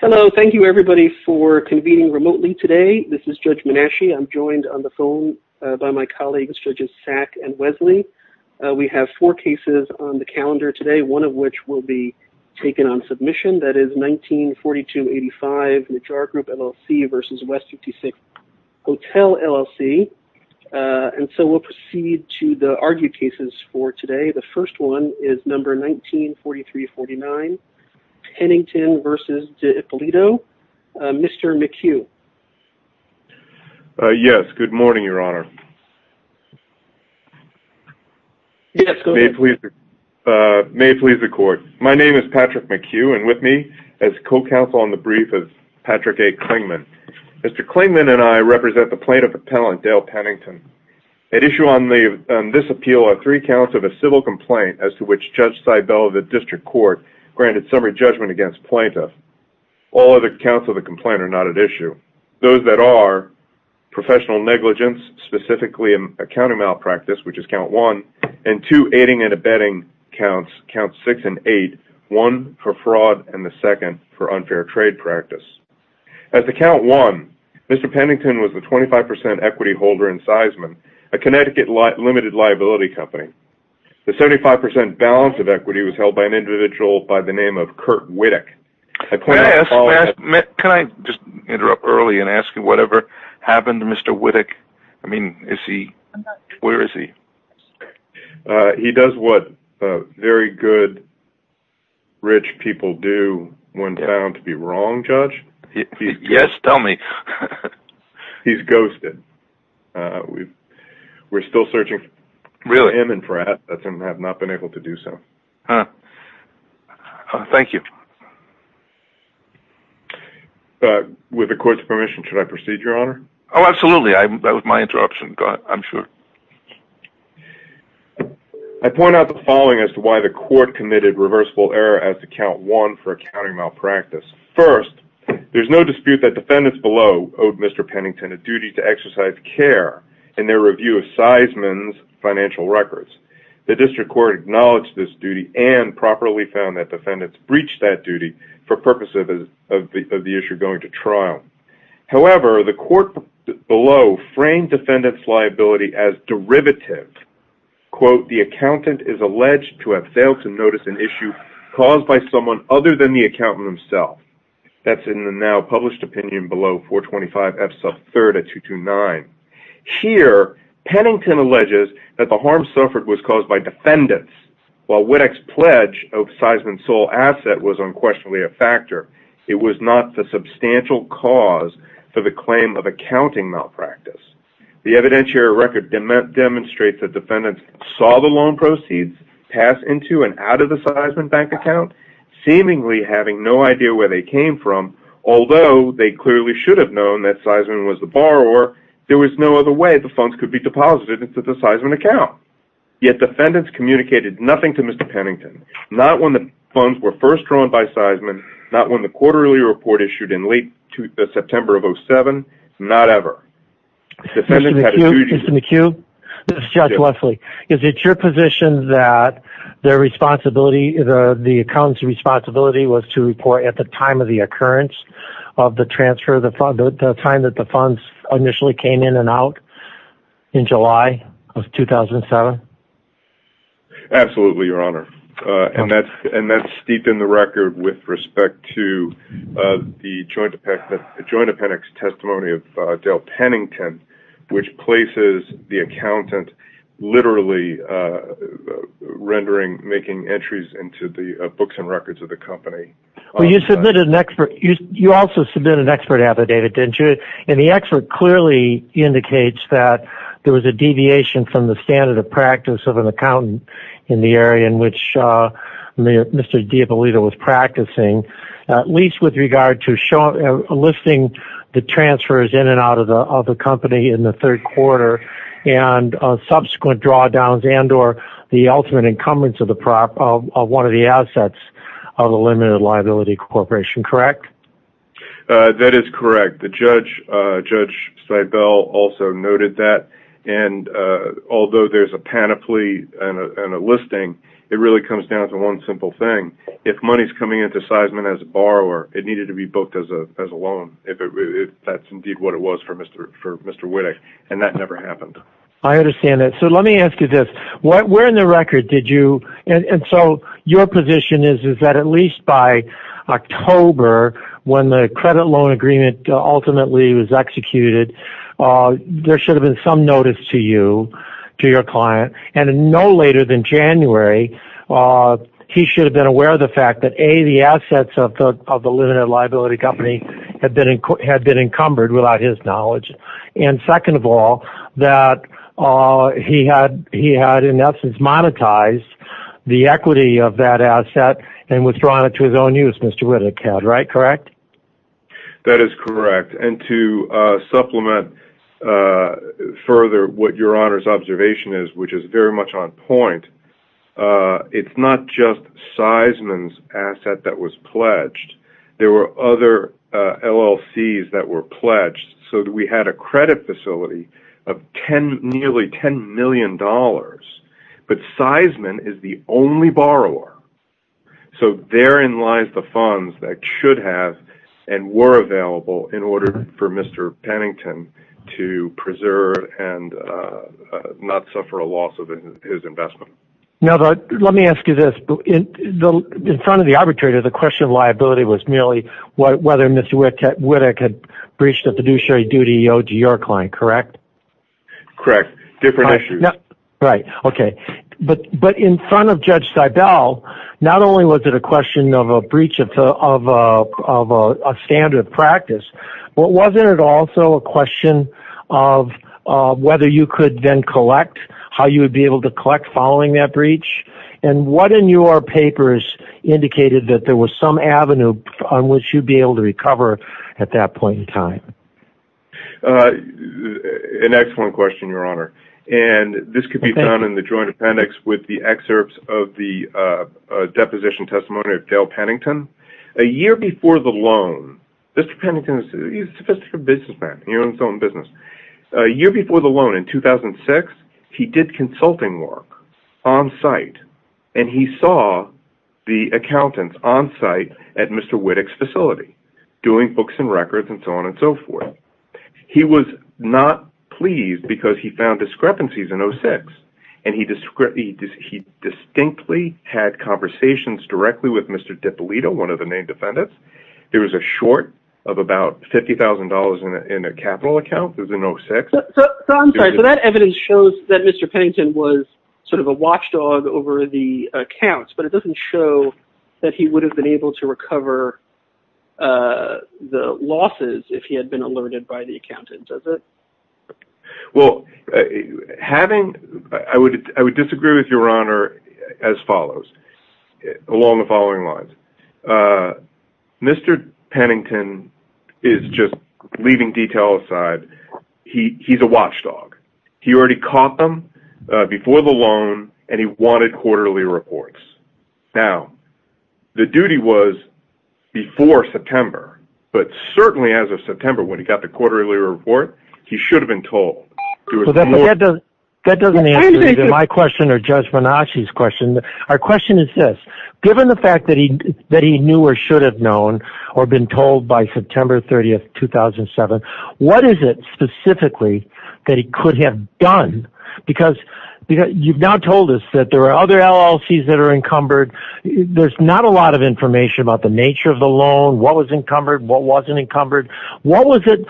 Hello, thank you everybody for convening remotely today. This is Judge Menasche. I'm joined on the phone by my colleagues, Judges Sack and Wesley. We have four cases on the calendar today, one of which will be taken on submission. That is 1942-85, the Jar Group LLC versus West 56 Hotel LLC. And so we'll proceed to the argued cases for today. The first one is number 1943-49, Pennington versus D'Ippolito. Mr. McHugh. Yes, good morning, your honor. May it please the court. My name is Patrick McHugh and with me as co-counsel on the brief is Patrick A. Klingman. Mr. Klingman and I represent the plaintiff appellant, Dale Pennington. At issue on this appeal are three counts of a civil complaint as to which Judge Seibel of the district court granted summary judgment against plaintiff. All other counts of the complaint are not at issue. Those that are, professional negligence, specifically accounting malpractice, which is count one, and two aiding and abetting counts, count six and eight, one for fraud and the second for unfair trade practice. As to count one, Mr. Pennington was the 25% equity holder in Seisman, a Connecticut limited liability company. The 75% balance of equity was held by an individual by the name of Kurt Wittig. Can I just interrupt early and ask you whatever happened to Mr. Wittig? Where is he? He does what very good rich people do when found to be wrong, Judge. Yes, tell me. He's ghosted. We're still searching for him and for assets and have not been able to do so. Thank you. With the court's permission, should I proceed, Your Honor? Oh, absolutely. That was my interruption. Go ahead. I'm sure. I point out the following as to why the court committed reversible error as to count one for Mr. Pennington, a duty to exercise care in their review of Seisman's financial records. The district court acknowledged this duty and properly found that defendants breached that duty for purposes of the issue going to trial. However, the court below framed defendants' liability as derivative. Quote, the accountant is alleged to have failed to notice an issue caused by someone other than the Here, Pennington alleges that the harm suffered was caused by defendants. While Wittig's pledge of Seisman's sole asset was unquestionably a factor, it was not the substantial cause for the claim of accounting malpractice. The evidentiary record demonstrates that defendants saw the loan proceeds pass into and out of the Seisman bank account, seemingly having no idea where they came from, although they clearly should have known that Seisman was the borrower. There was no other way the funds could be deposited into the Seisman account. Yet defendants communicated nothing to Mr. Pennington, not when the funds were first drawn by Seisman, not when the quarterly report issued in late September of 2007, not ever. Mr. McCue, this is Judge Wesley. Is it your position that the accountant's responsibility was to report at the time of the occurrence of the transfer, the time that the funds initially came in and out, in July of 2007? Absolutely, Your Honor. And that's steeped in the record with respect to the joint appendix testimony of Dale Pennington, which places the accountant literally rendering, making entries into the books and records of the company. You also submitted an expert affidavit, didn't you? And the expert clearly indicates that there was a deviation from the standard of practice of an accountant in the area in which Mr. Diabolito was practicing, at least with regard to a listing the transfers in and out of the company in the third quarter and subsequent drawdowns and or the ultimate encumbrance of one of the assets of a limited liability corporation, correct? That is correct. Judge Seibel also noted that. And although there's a panoply and a listing, it really comes down to one simple thing. If money is coming into Seisman as a borrower, it needed to be booked as a loan. That's indeed what it was for Mr. Wittig, and that never happened. I understand that. So let me ask you this. Where in the record did you, and so your position is that at least by October, when the credit loan agreement ultimately was executed, there should have been some notice to you, to your client, and no later than January, he should have been aware of the fact that, A, the assets of the limited liability company had been encumbered without his knowledge, and second of all, that he had in essence monetized the equity of that asset and withdrawn it to his own use, Mr. Wittig had, correct? That is correct. And to supplement further what your Honor's observation is, which is very much on point, it's not just Seisman's asset that was pledged. There were other LLCs that were pledged. So we had a credit facility of nearly $10 million, but Seisman is the only borrower. So therein lies the funds that should have and were available in order for Mr. Pennington to preserve and not suffer a loss of his investment. Now, let me ask you this. In front of the arbitrator, the question of liability was merely whether Mr. Wittig had breached a fiduciary duty owed to your client, correct? Correct. Different issues. Right. Okay. But in front of Judge Seibel, not only was it a question of a breach of a standard practice, but wasn't it also a question of whether you could then collect, how you would be able to collect following that breach? And what in your papers indicated that there was some avenue on which you'd be able to recover at that point in time? An excellent question, Your Honor. And this could be found in the Joint Appendix with the excerpts of the deposition testimony of Dale Pennington. A year before the loan, Mr. Pennington is a sophisticated businessman. He runs his own business. A year before the loan, in 2006, he did consulting work on-site, and he saw the accountants on-site at Mr. Wittig's facility doing books and records and so on and so forth. He was not pleased because he found discrepancies in 06, and he distinctly had conversations directly with Mr. DiPolito, one of the named defendants. There was a short of about $50,000 in a capital account. It was in 06. So I'm sorry. So that evidence shows that Mr. Pennington was sort of a watchdog over the accounts, but it doesn't show that he would have been able to recover the losses if he had been alerted by the accountants, does it? Well, having – I would disagree with Your Honor as follows, along the following lines. Mr. Pennington is just – leaving detail aside, he's a watchdog. He already caught them before the loan, and he wanted quarterly reports. Now, the duty was before September, but certainly as of September when he got the quarterly report, he should have been told. That doesn't answer either my question or Judge Menache's question. Our question is this. Given the fact that he knew or should have known or been told by September 30, 2007, what is it specifically that he could have done? Because you've now told us that there are other LLCs that are encumbered. There's not a lot of information about the nature of the loan, what was encumbered, what wasn't encumbered. What was it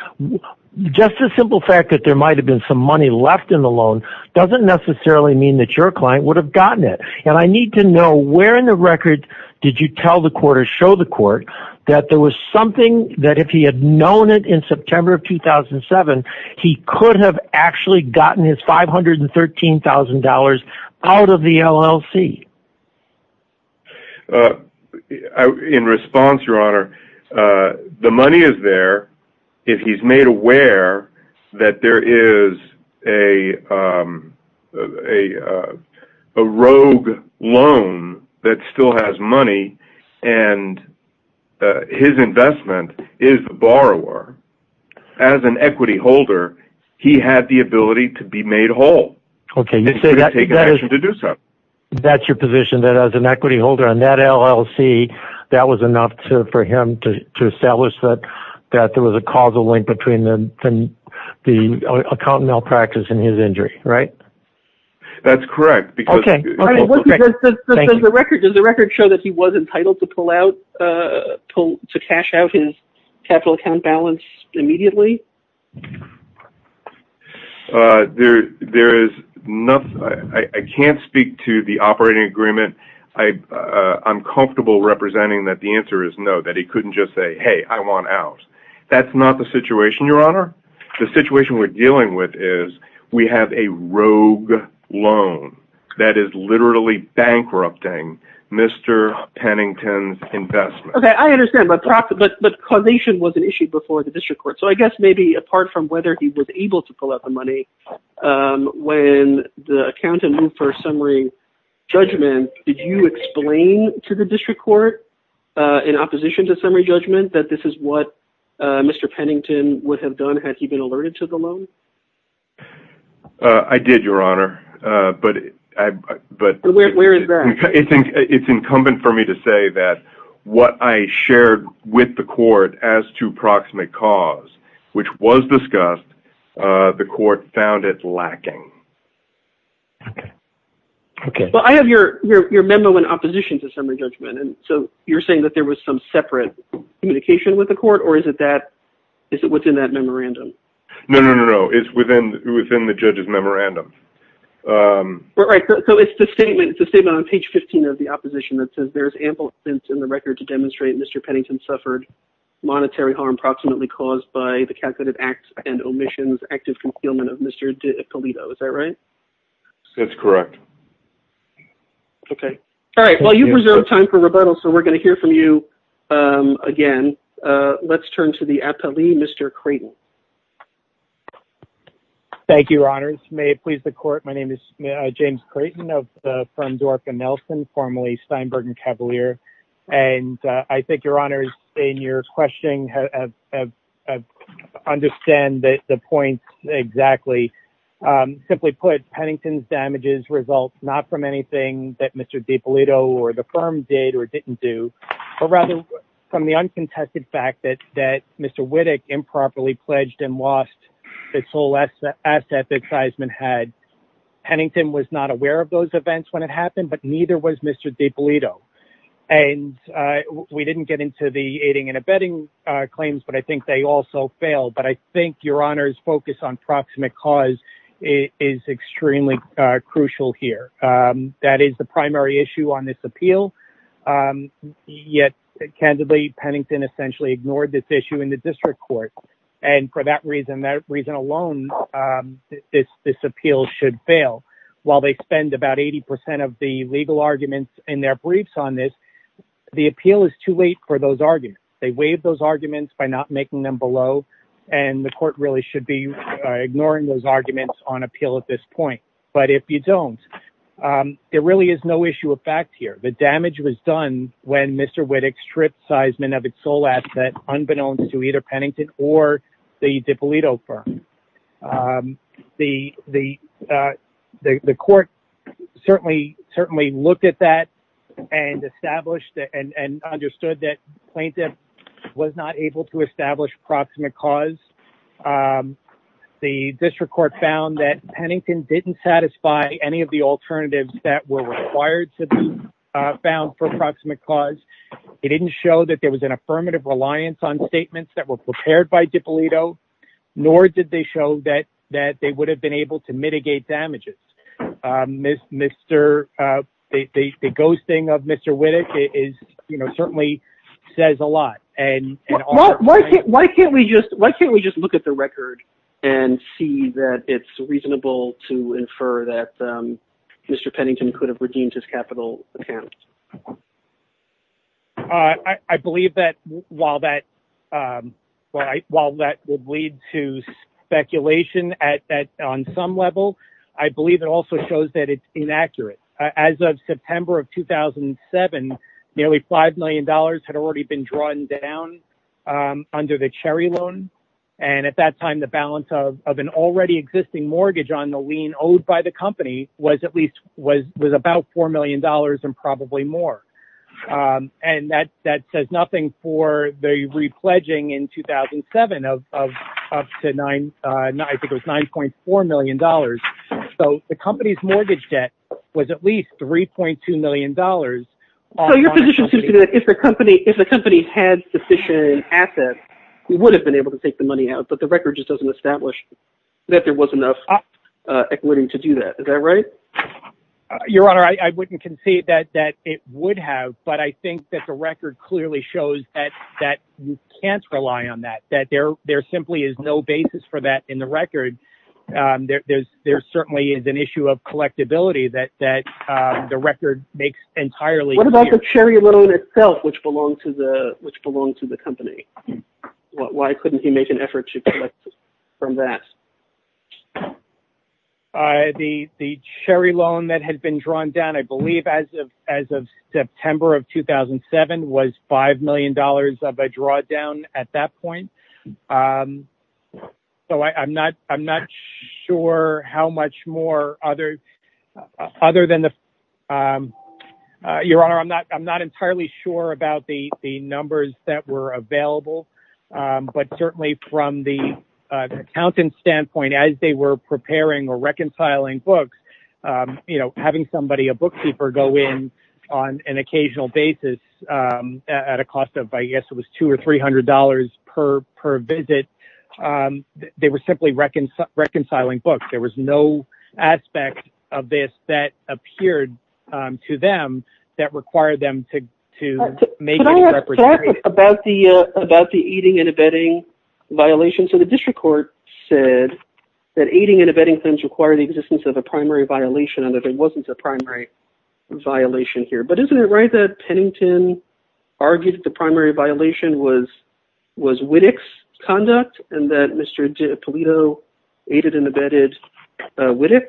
– just the simple fact that there might have been some money left in the loan doesn't necessarily mean that your client would have gotten it. I need to know, where in the record did you tell the court or show the court that there was something that if he had known it in September of 2007, he could have actually gotten his $513,000 out of the LLC? In response, Your Honor, the money is there if he's made aware that there is a rogue loan that still has money and his investment is the borrower. As an equity holder, he had the ability to be made whole. That's your position, that as an equity holder on that LLC, that was enough for him to establish that there was a causal link between the account malpractice and his injury, right? That's correct. Does the record show that he was entitled to cash out his capital account balance immediately? I can't speak to the operating agreement. I'm comfortable representing that the answer is no, that he couldn't just say, hey, I want out. That's not the situation, Your Honor. The situation we're dealing with is we have a rogue loan that is literally bankrupting Mr. Pennington's investment. I understand, but causation was an issue before the district court. So I guess maybe apart from whether he was able to pull out the money, when the accountant moved for a summary judgment, did you explain to the district court in opposition to summary judgment that this is what Mr. Pennington would have done had he been alerted to the loan? I did, Your Honor. Where is that? It's incumbent for me to say that what I shared with the court as to proximate cause, which was discussed, the court found it lacking. Okay. Well, I have your memo in opposition to summary judgment. So you're saying that there was some separate communication with the court, or is it within that memorandum? No, no, no, no. It's within the judge's memorandum. Right. So it's the statement on page 15 of the opposition that says there's ample evidence in the record to demonstrate Mr. Pennington suffered monetary harm proximately caused by the calculated acts and omissions, active concealment of Mr. DiPolito. Is that right? That's correct. Okay. All right. Well, you've reserved time for rebuttal, so we're going to hear from you again. Let's turn to the appellee, Mr. Creighton. Thank you, Your Honor. May it please the court. My name is James Creighton of the firm Dorca Nelson, formerly Steinberg & Cavalier. And I think Your Honor, in your question, I understand the point exactly. Simply put, Pennington's damages result not from anything that Mr. DiPolito or the firm did or didn't do, but rather from the uncontested fact that Mr. Wittig improperly pledged and lost its whole asset that Seisman had. Pennington was not aware of those events when it happened, but neither was Mr. DiPolito. And we didn't get into the aiding and abetting claims, but I think they also failed. But I think Your Honor's focus on proximate cause is extremely crucial here. That is the primary issue on this appeal. Yet, candidly, Pennington essentially ignored this issue in the district court. And for that reason, that reason alone, this appeal should fail. While they spend about 80% of the legal arguments in their briefs on this, the appeal is too late for those arguments. They waive those arguments by not making them below, and the court really should be ignoring those arguments on appeal at this point. But if you don't, there really is no issue of fact here. The damage was done when Mr. Wittig stripped Seisman of its whole asset, unbeknownst to either Pennington or the DiPolito firm. The court certainly looked at that and established and understood that plaintiff was not able to establish proximate cause. The district court found that Pennington didn't satisfy any of the alternatives that were required to be found for proximate cause. It didn't show that there was an affirmative reliance on statements that were prepared by DiPolito, nor did they show that they would have been able to mitigate damages. The ghosting of Mr. Wittig certainly says a lot. Why can't we just look at the record and see that it's reasonable to infer that Mr. Pennington could have redeemed his capital account? I believe that while that would lead to speculation on some level, I believe it also shows that it's inaccurate. As of September of 2007, nearly $5 million had already been drawn down under the Cherry loan. At that time, the balance of an already existing mortgage on the lien owed by the company was about $4 million and probably more. That says nothing for the re-pledging in 2007 of up to $9.4 million. So the company's mortgage debt was at least $3.2 million. So your position seems to be that if the company had sufficient assets, we would have been able to take the money out, but the record just doesn't establish that there was enough equity to do that. Is that right? Your Honor, I wouldn't concede that it would have, but I think that the record clearly shows that you can't rely on that, that there simply is no basis for that in the record. There certainly is an issue of collectability that the record makes entirely clear. What about the Cherry loan itself, which belonged to the company? Why couldn't he make an effort to collect from that? The Cherry loan that had been drawn down, I believe as of September of 2007, was $5 million of a drawdown at that point. So I'm not sure how much more other than the... Your Honor, I'm not entirely sure about the numbers that were available, but certainly from the accountant's standpoint, as they were preparing or reconciling books, having somebody, a bookkeeper, go in on an occasional basis at a cost of, I guess it was $200 or $300 per visit, they were simply reconciling books. There was no aspect of this that appeared to them that required them to make any representation. About the aiding and abetting violations, so the district court said that aiding and abetting claims require the existence of a primary violation, and that there wasn't a primary violation here. But isn't it right that Pennington argued that the primary violation was Wittig's conduct, and that Mr. Polito aided and abetted Wittig?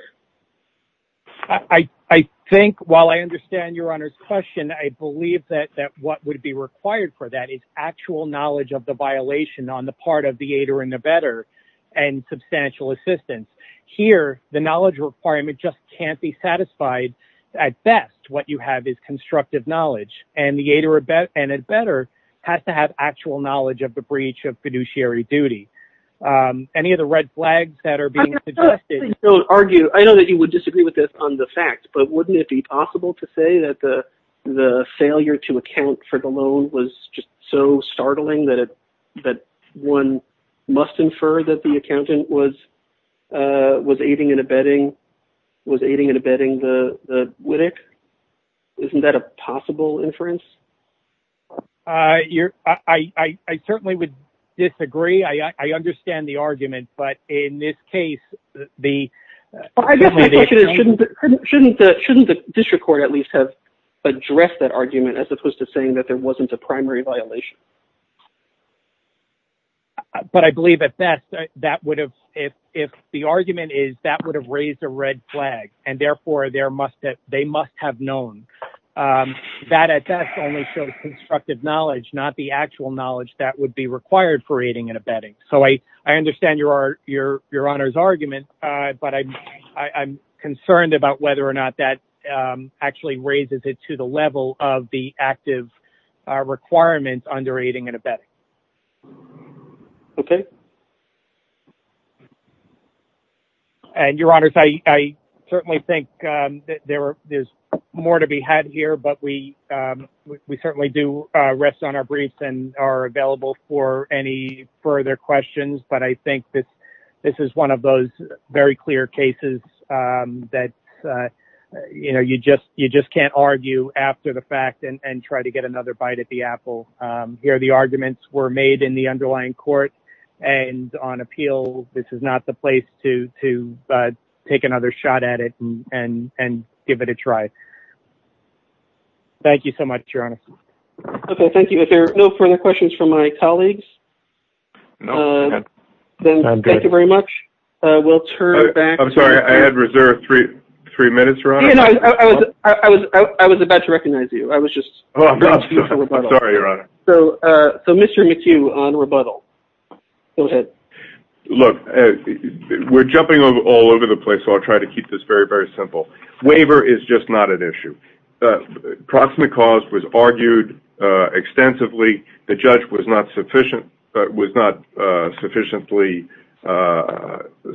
I think, while I understand Your Honor's question, I believe that what would be required for that is actual knowledge of the violation on the part of the aider and abetter and substantial assistance. Here, the knowledge requirement just can't be satisfied at best. What you have is constructive knowledge, and the aider and abetter has to have actual knowledge of the breach of fiduciary duty. Any of the red flags that are being suggested... I know that you would disagree with this on the fact, but wouldn't it be possible to say that the failure to account for the loan was just so startling that one must infer that the accountant was aiding and abetting Wittig? Isn't that a possible inference? I certainly would disagree. I understand the argument, but in this case, the... I guess my question is, shouldn't the district court at least have addressed that argument as opposed to saying that there wasn't a primary violation? But I believe at best, if the argument is that would have raised a red flag, and therefore they must have known. That, at best, only shows constructive knowledge, not the actual knowledge that would be required for aiding and abetting. I understand Your Honor's argument, but I'm concerned about whether or not that actually raises it to the level of the active requirement under aiding and abetting. Okay. Your Honor, I certainly think that there's more to be had here, but we certainly do rest on our briefs and are available for any further questions. But I think that this is one of those very clear cases that you just can't argue after the fact and try to get another bite at the apple. Here, the arguments were made in the underlying court, and on appeal, this is not the place to take another shot at it and give it a try. Thank you so much, Your Honor. Okay, thank you. If there are no further questions from my colleagues, then thank you very much. I'm sorry, I had reserved three minutes, Your Honor. I was about to recognize you. I was just... I'm sorry, Your Honor. So, Mr. McHugh on rebuttal. Go ahead. Look, we're jumping all over the place, so I'll try to keep this very, very simple. Waiver is just not an issue. Proximate cause was argued extensively. The judge was not sufficiently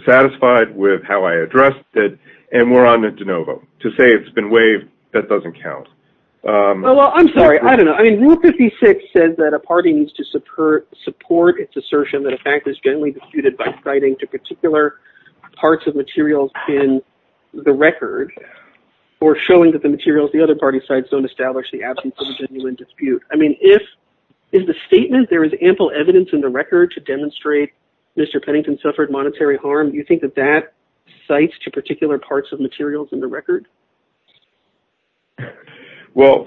satisfied with how I addressed it, and we're on the de novo. To say it's been waived, that doesn't count. Well, I'm sorry. I don't know. I mean, Rule 56 says that a party needs to support its assertion that a fact is generally disputed by citing to particular parts of materials in the record or showing that the materials the other party cites don't establish the absence of a genuine dispute. I mean, if... In the statement, there is ample evidence in the record to demonstrate Mr. Pennington suffered monetary harm. Do you think that that cites to particular parts of materials in the record? Well,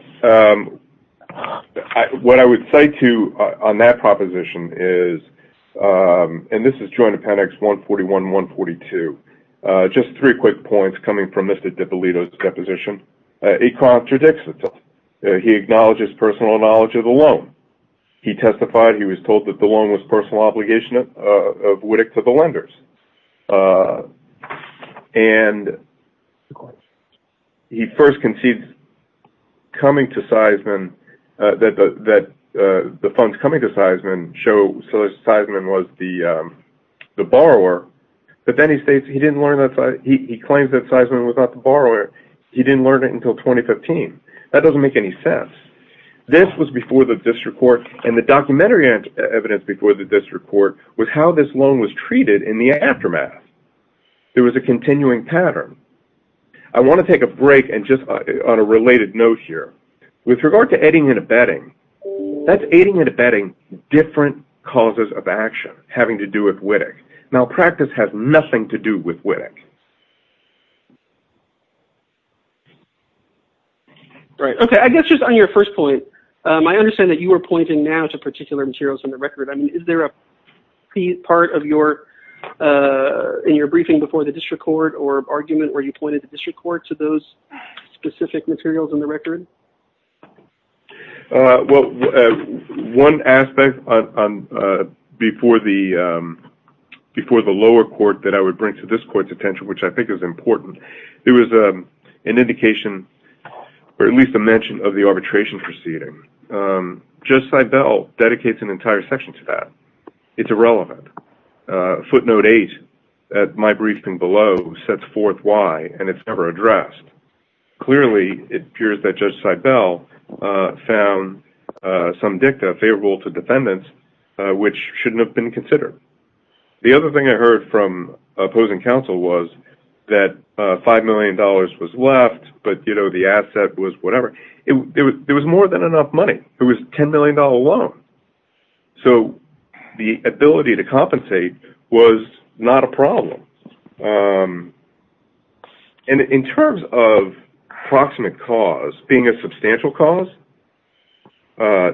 what I would cite to on that proposition is, and this is joint appendix 141 and 142, just three quick points coming from Mr. DiPolito's deposition. He contradicts himself. He acknowledges personal knowledge of the loan. He testified he was told that the loan was personal obligation of WIDC to the lenders. And he first concedes coming to Seisman, that the funds coming to Seisman show Seisman was the borrower, but then he states he didn't learn that Seisman, he claims that Seisman was not the borrower. He didn't learn it until 2015. That doesn't make any sense. This was before the district court, and the documentary evidence before the district court was how this loan was treated in the aftermath. There was a continuing pattern. I want to take a break and just on a related note here. With regard to aiding and abetting, that's aiding and abetting different causes of action having to do with WIDC. Malpractice has nothing to do with WIDC. Okay. I guess just on your first point, I understand that you were pointing now to particular materials in the record. I mean, is there a key part in your briefing before the district court or argument where you pointed the district court to those specific materials in the record? Well, one aspect before the lower court that I would bring to this court's attention, which I think is important, there was an indication or at least a mention of the arbitration proceeding. Judge Seibel dedicates an entire section to that. It's irrelevant. Footnote 8 at my briefing below sets forth why, and it's never addressed. Clearly, it appears that Judge Seibel found some dicta favorable to defendants, which shouldn't have been considered. The other thing I heard from opposing counsel was that $5 million was left, but the asset was whatever. It was more than enough money. It was a $10 million loan. In terms of proximate cause being a substantial cause,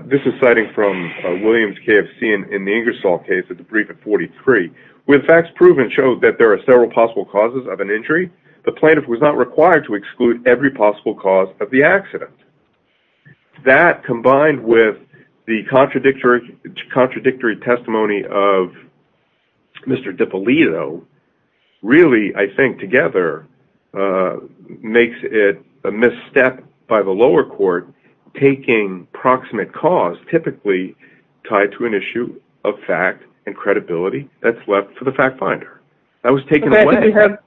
this is citing from Williams KFC in the Ingersoll case at the brief at 43, where the facts proven show that there are several possible causes of an injury. The plaintiff was not required to exclude every possible cause of the accident. That, combined with the contradictory testimony of Mr. DiPolito, really, I think, together, makes it a misstep by the lower court taking proximate cause typically tied to an issue of fact and credibility. That's left for the fact finder. I think we have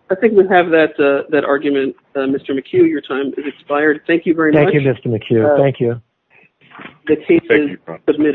that argument. Mr. McHugh, your time has expired. Thank you very much. Thank you, Mr. McHugh. Thank you. The case is submitted.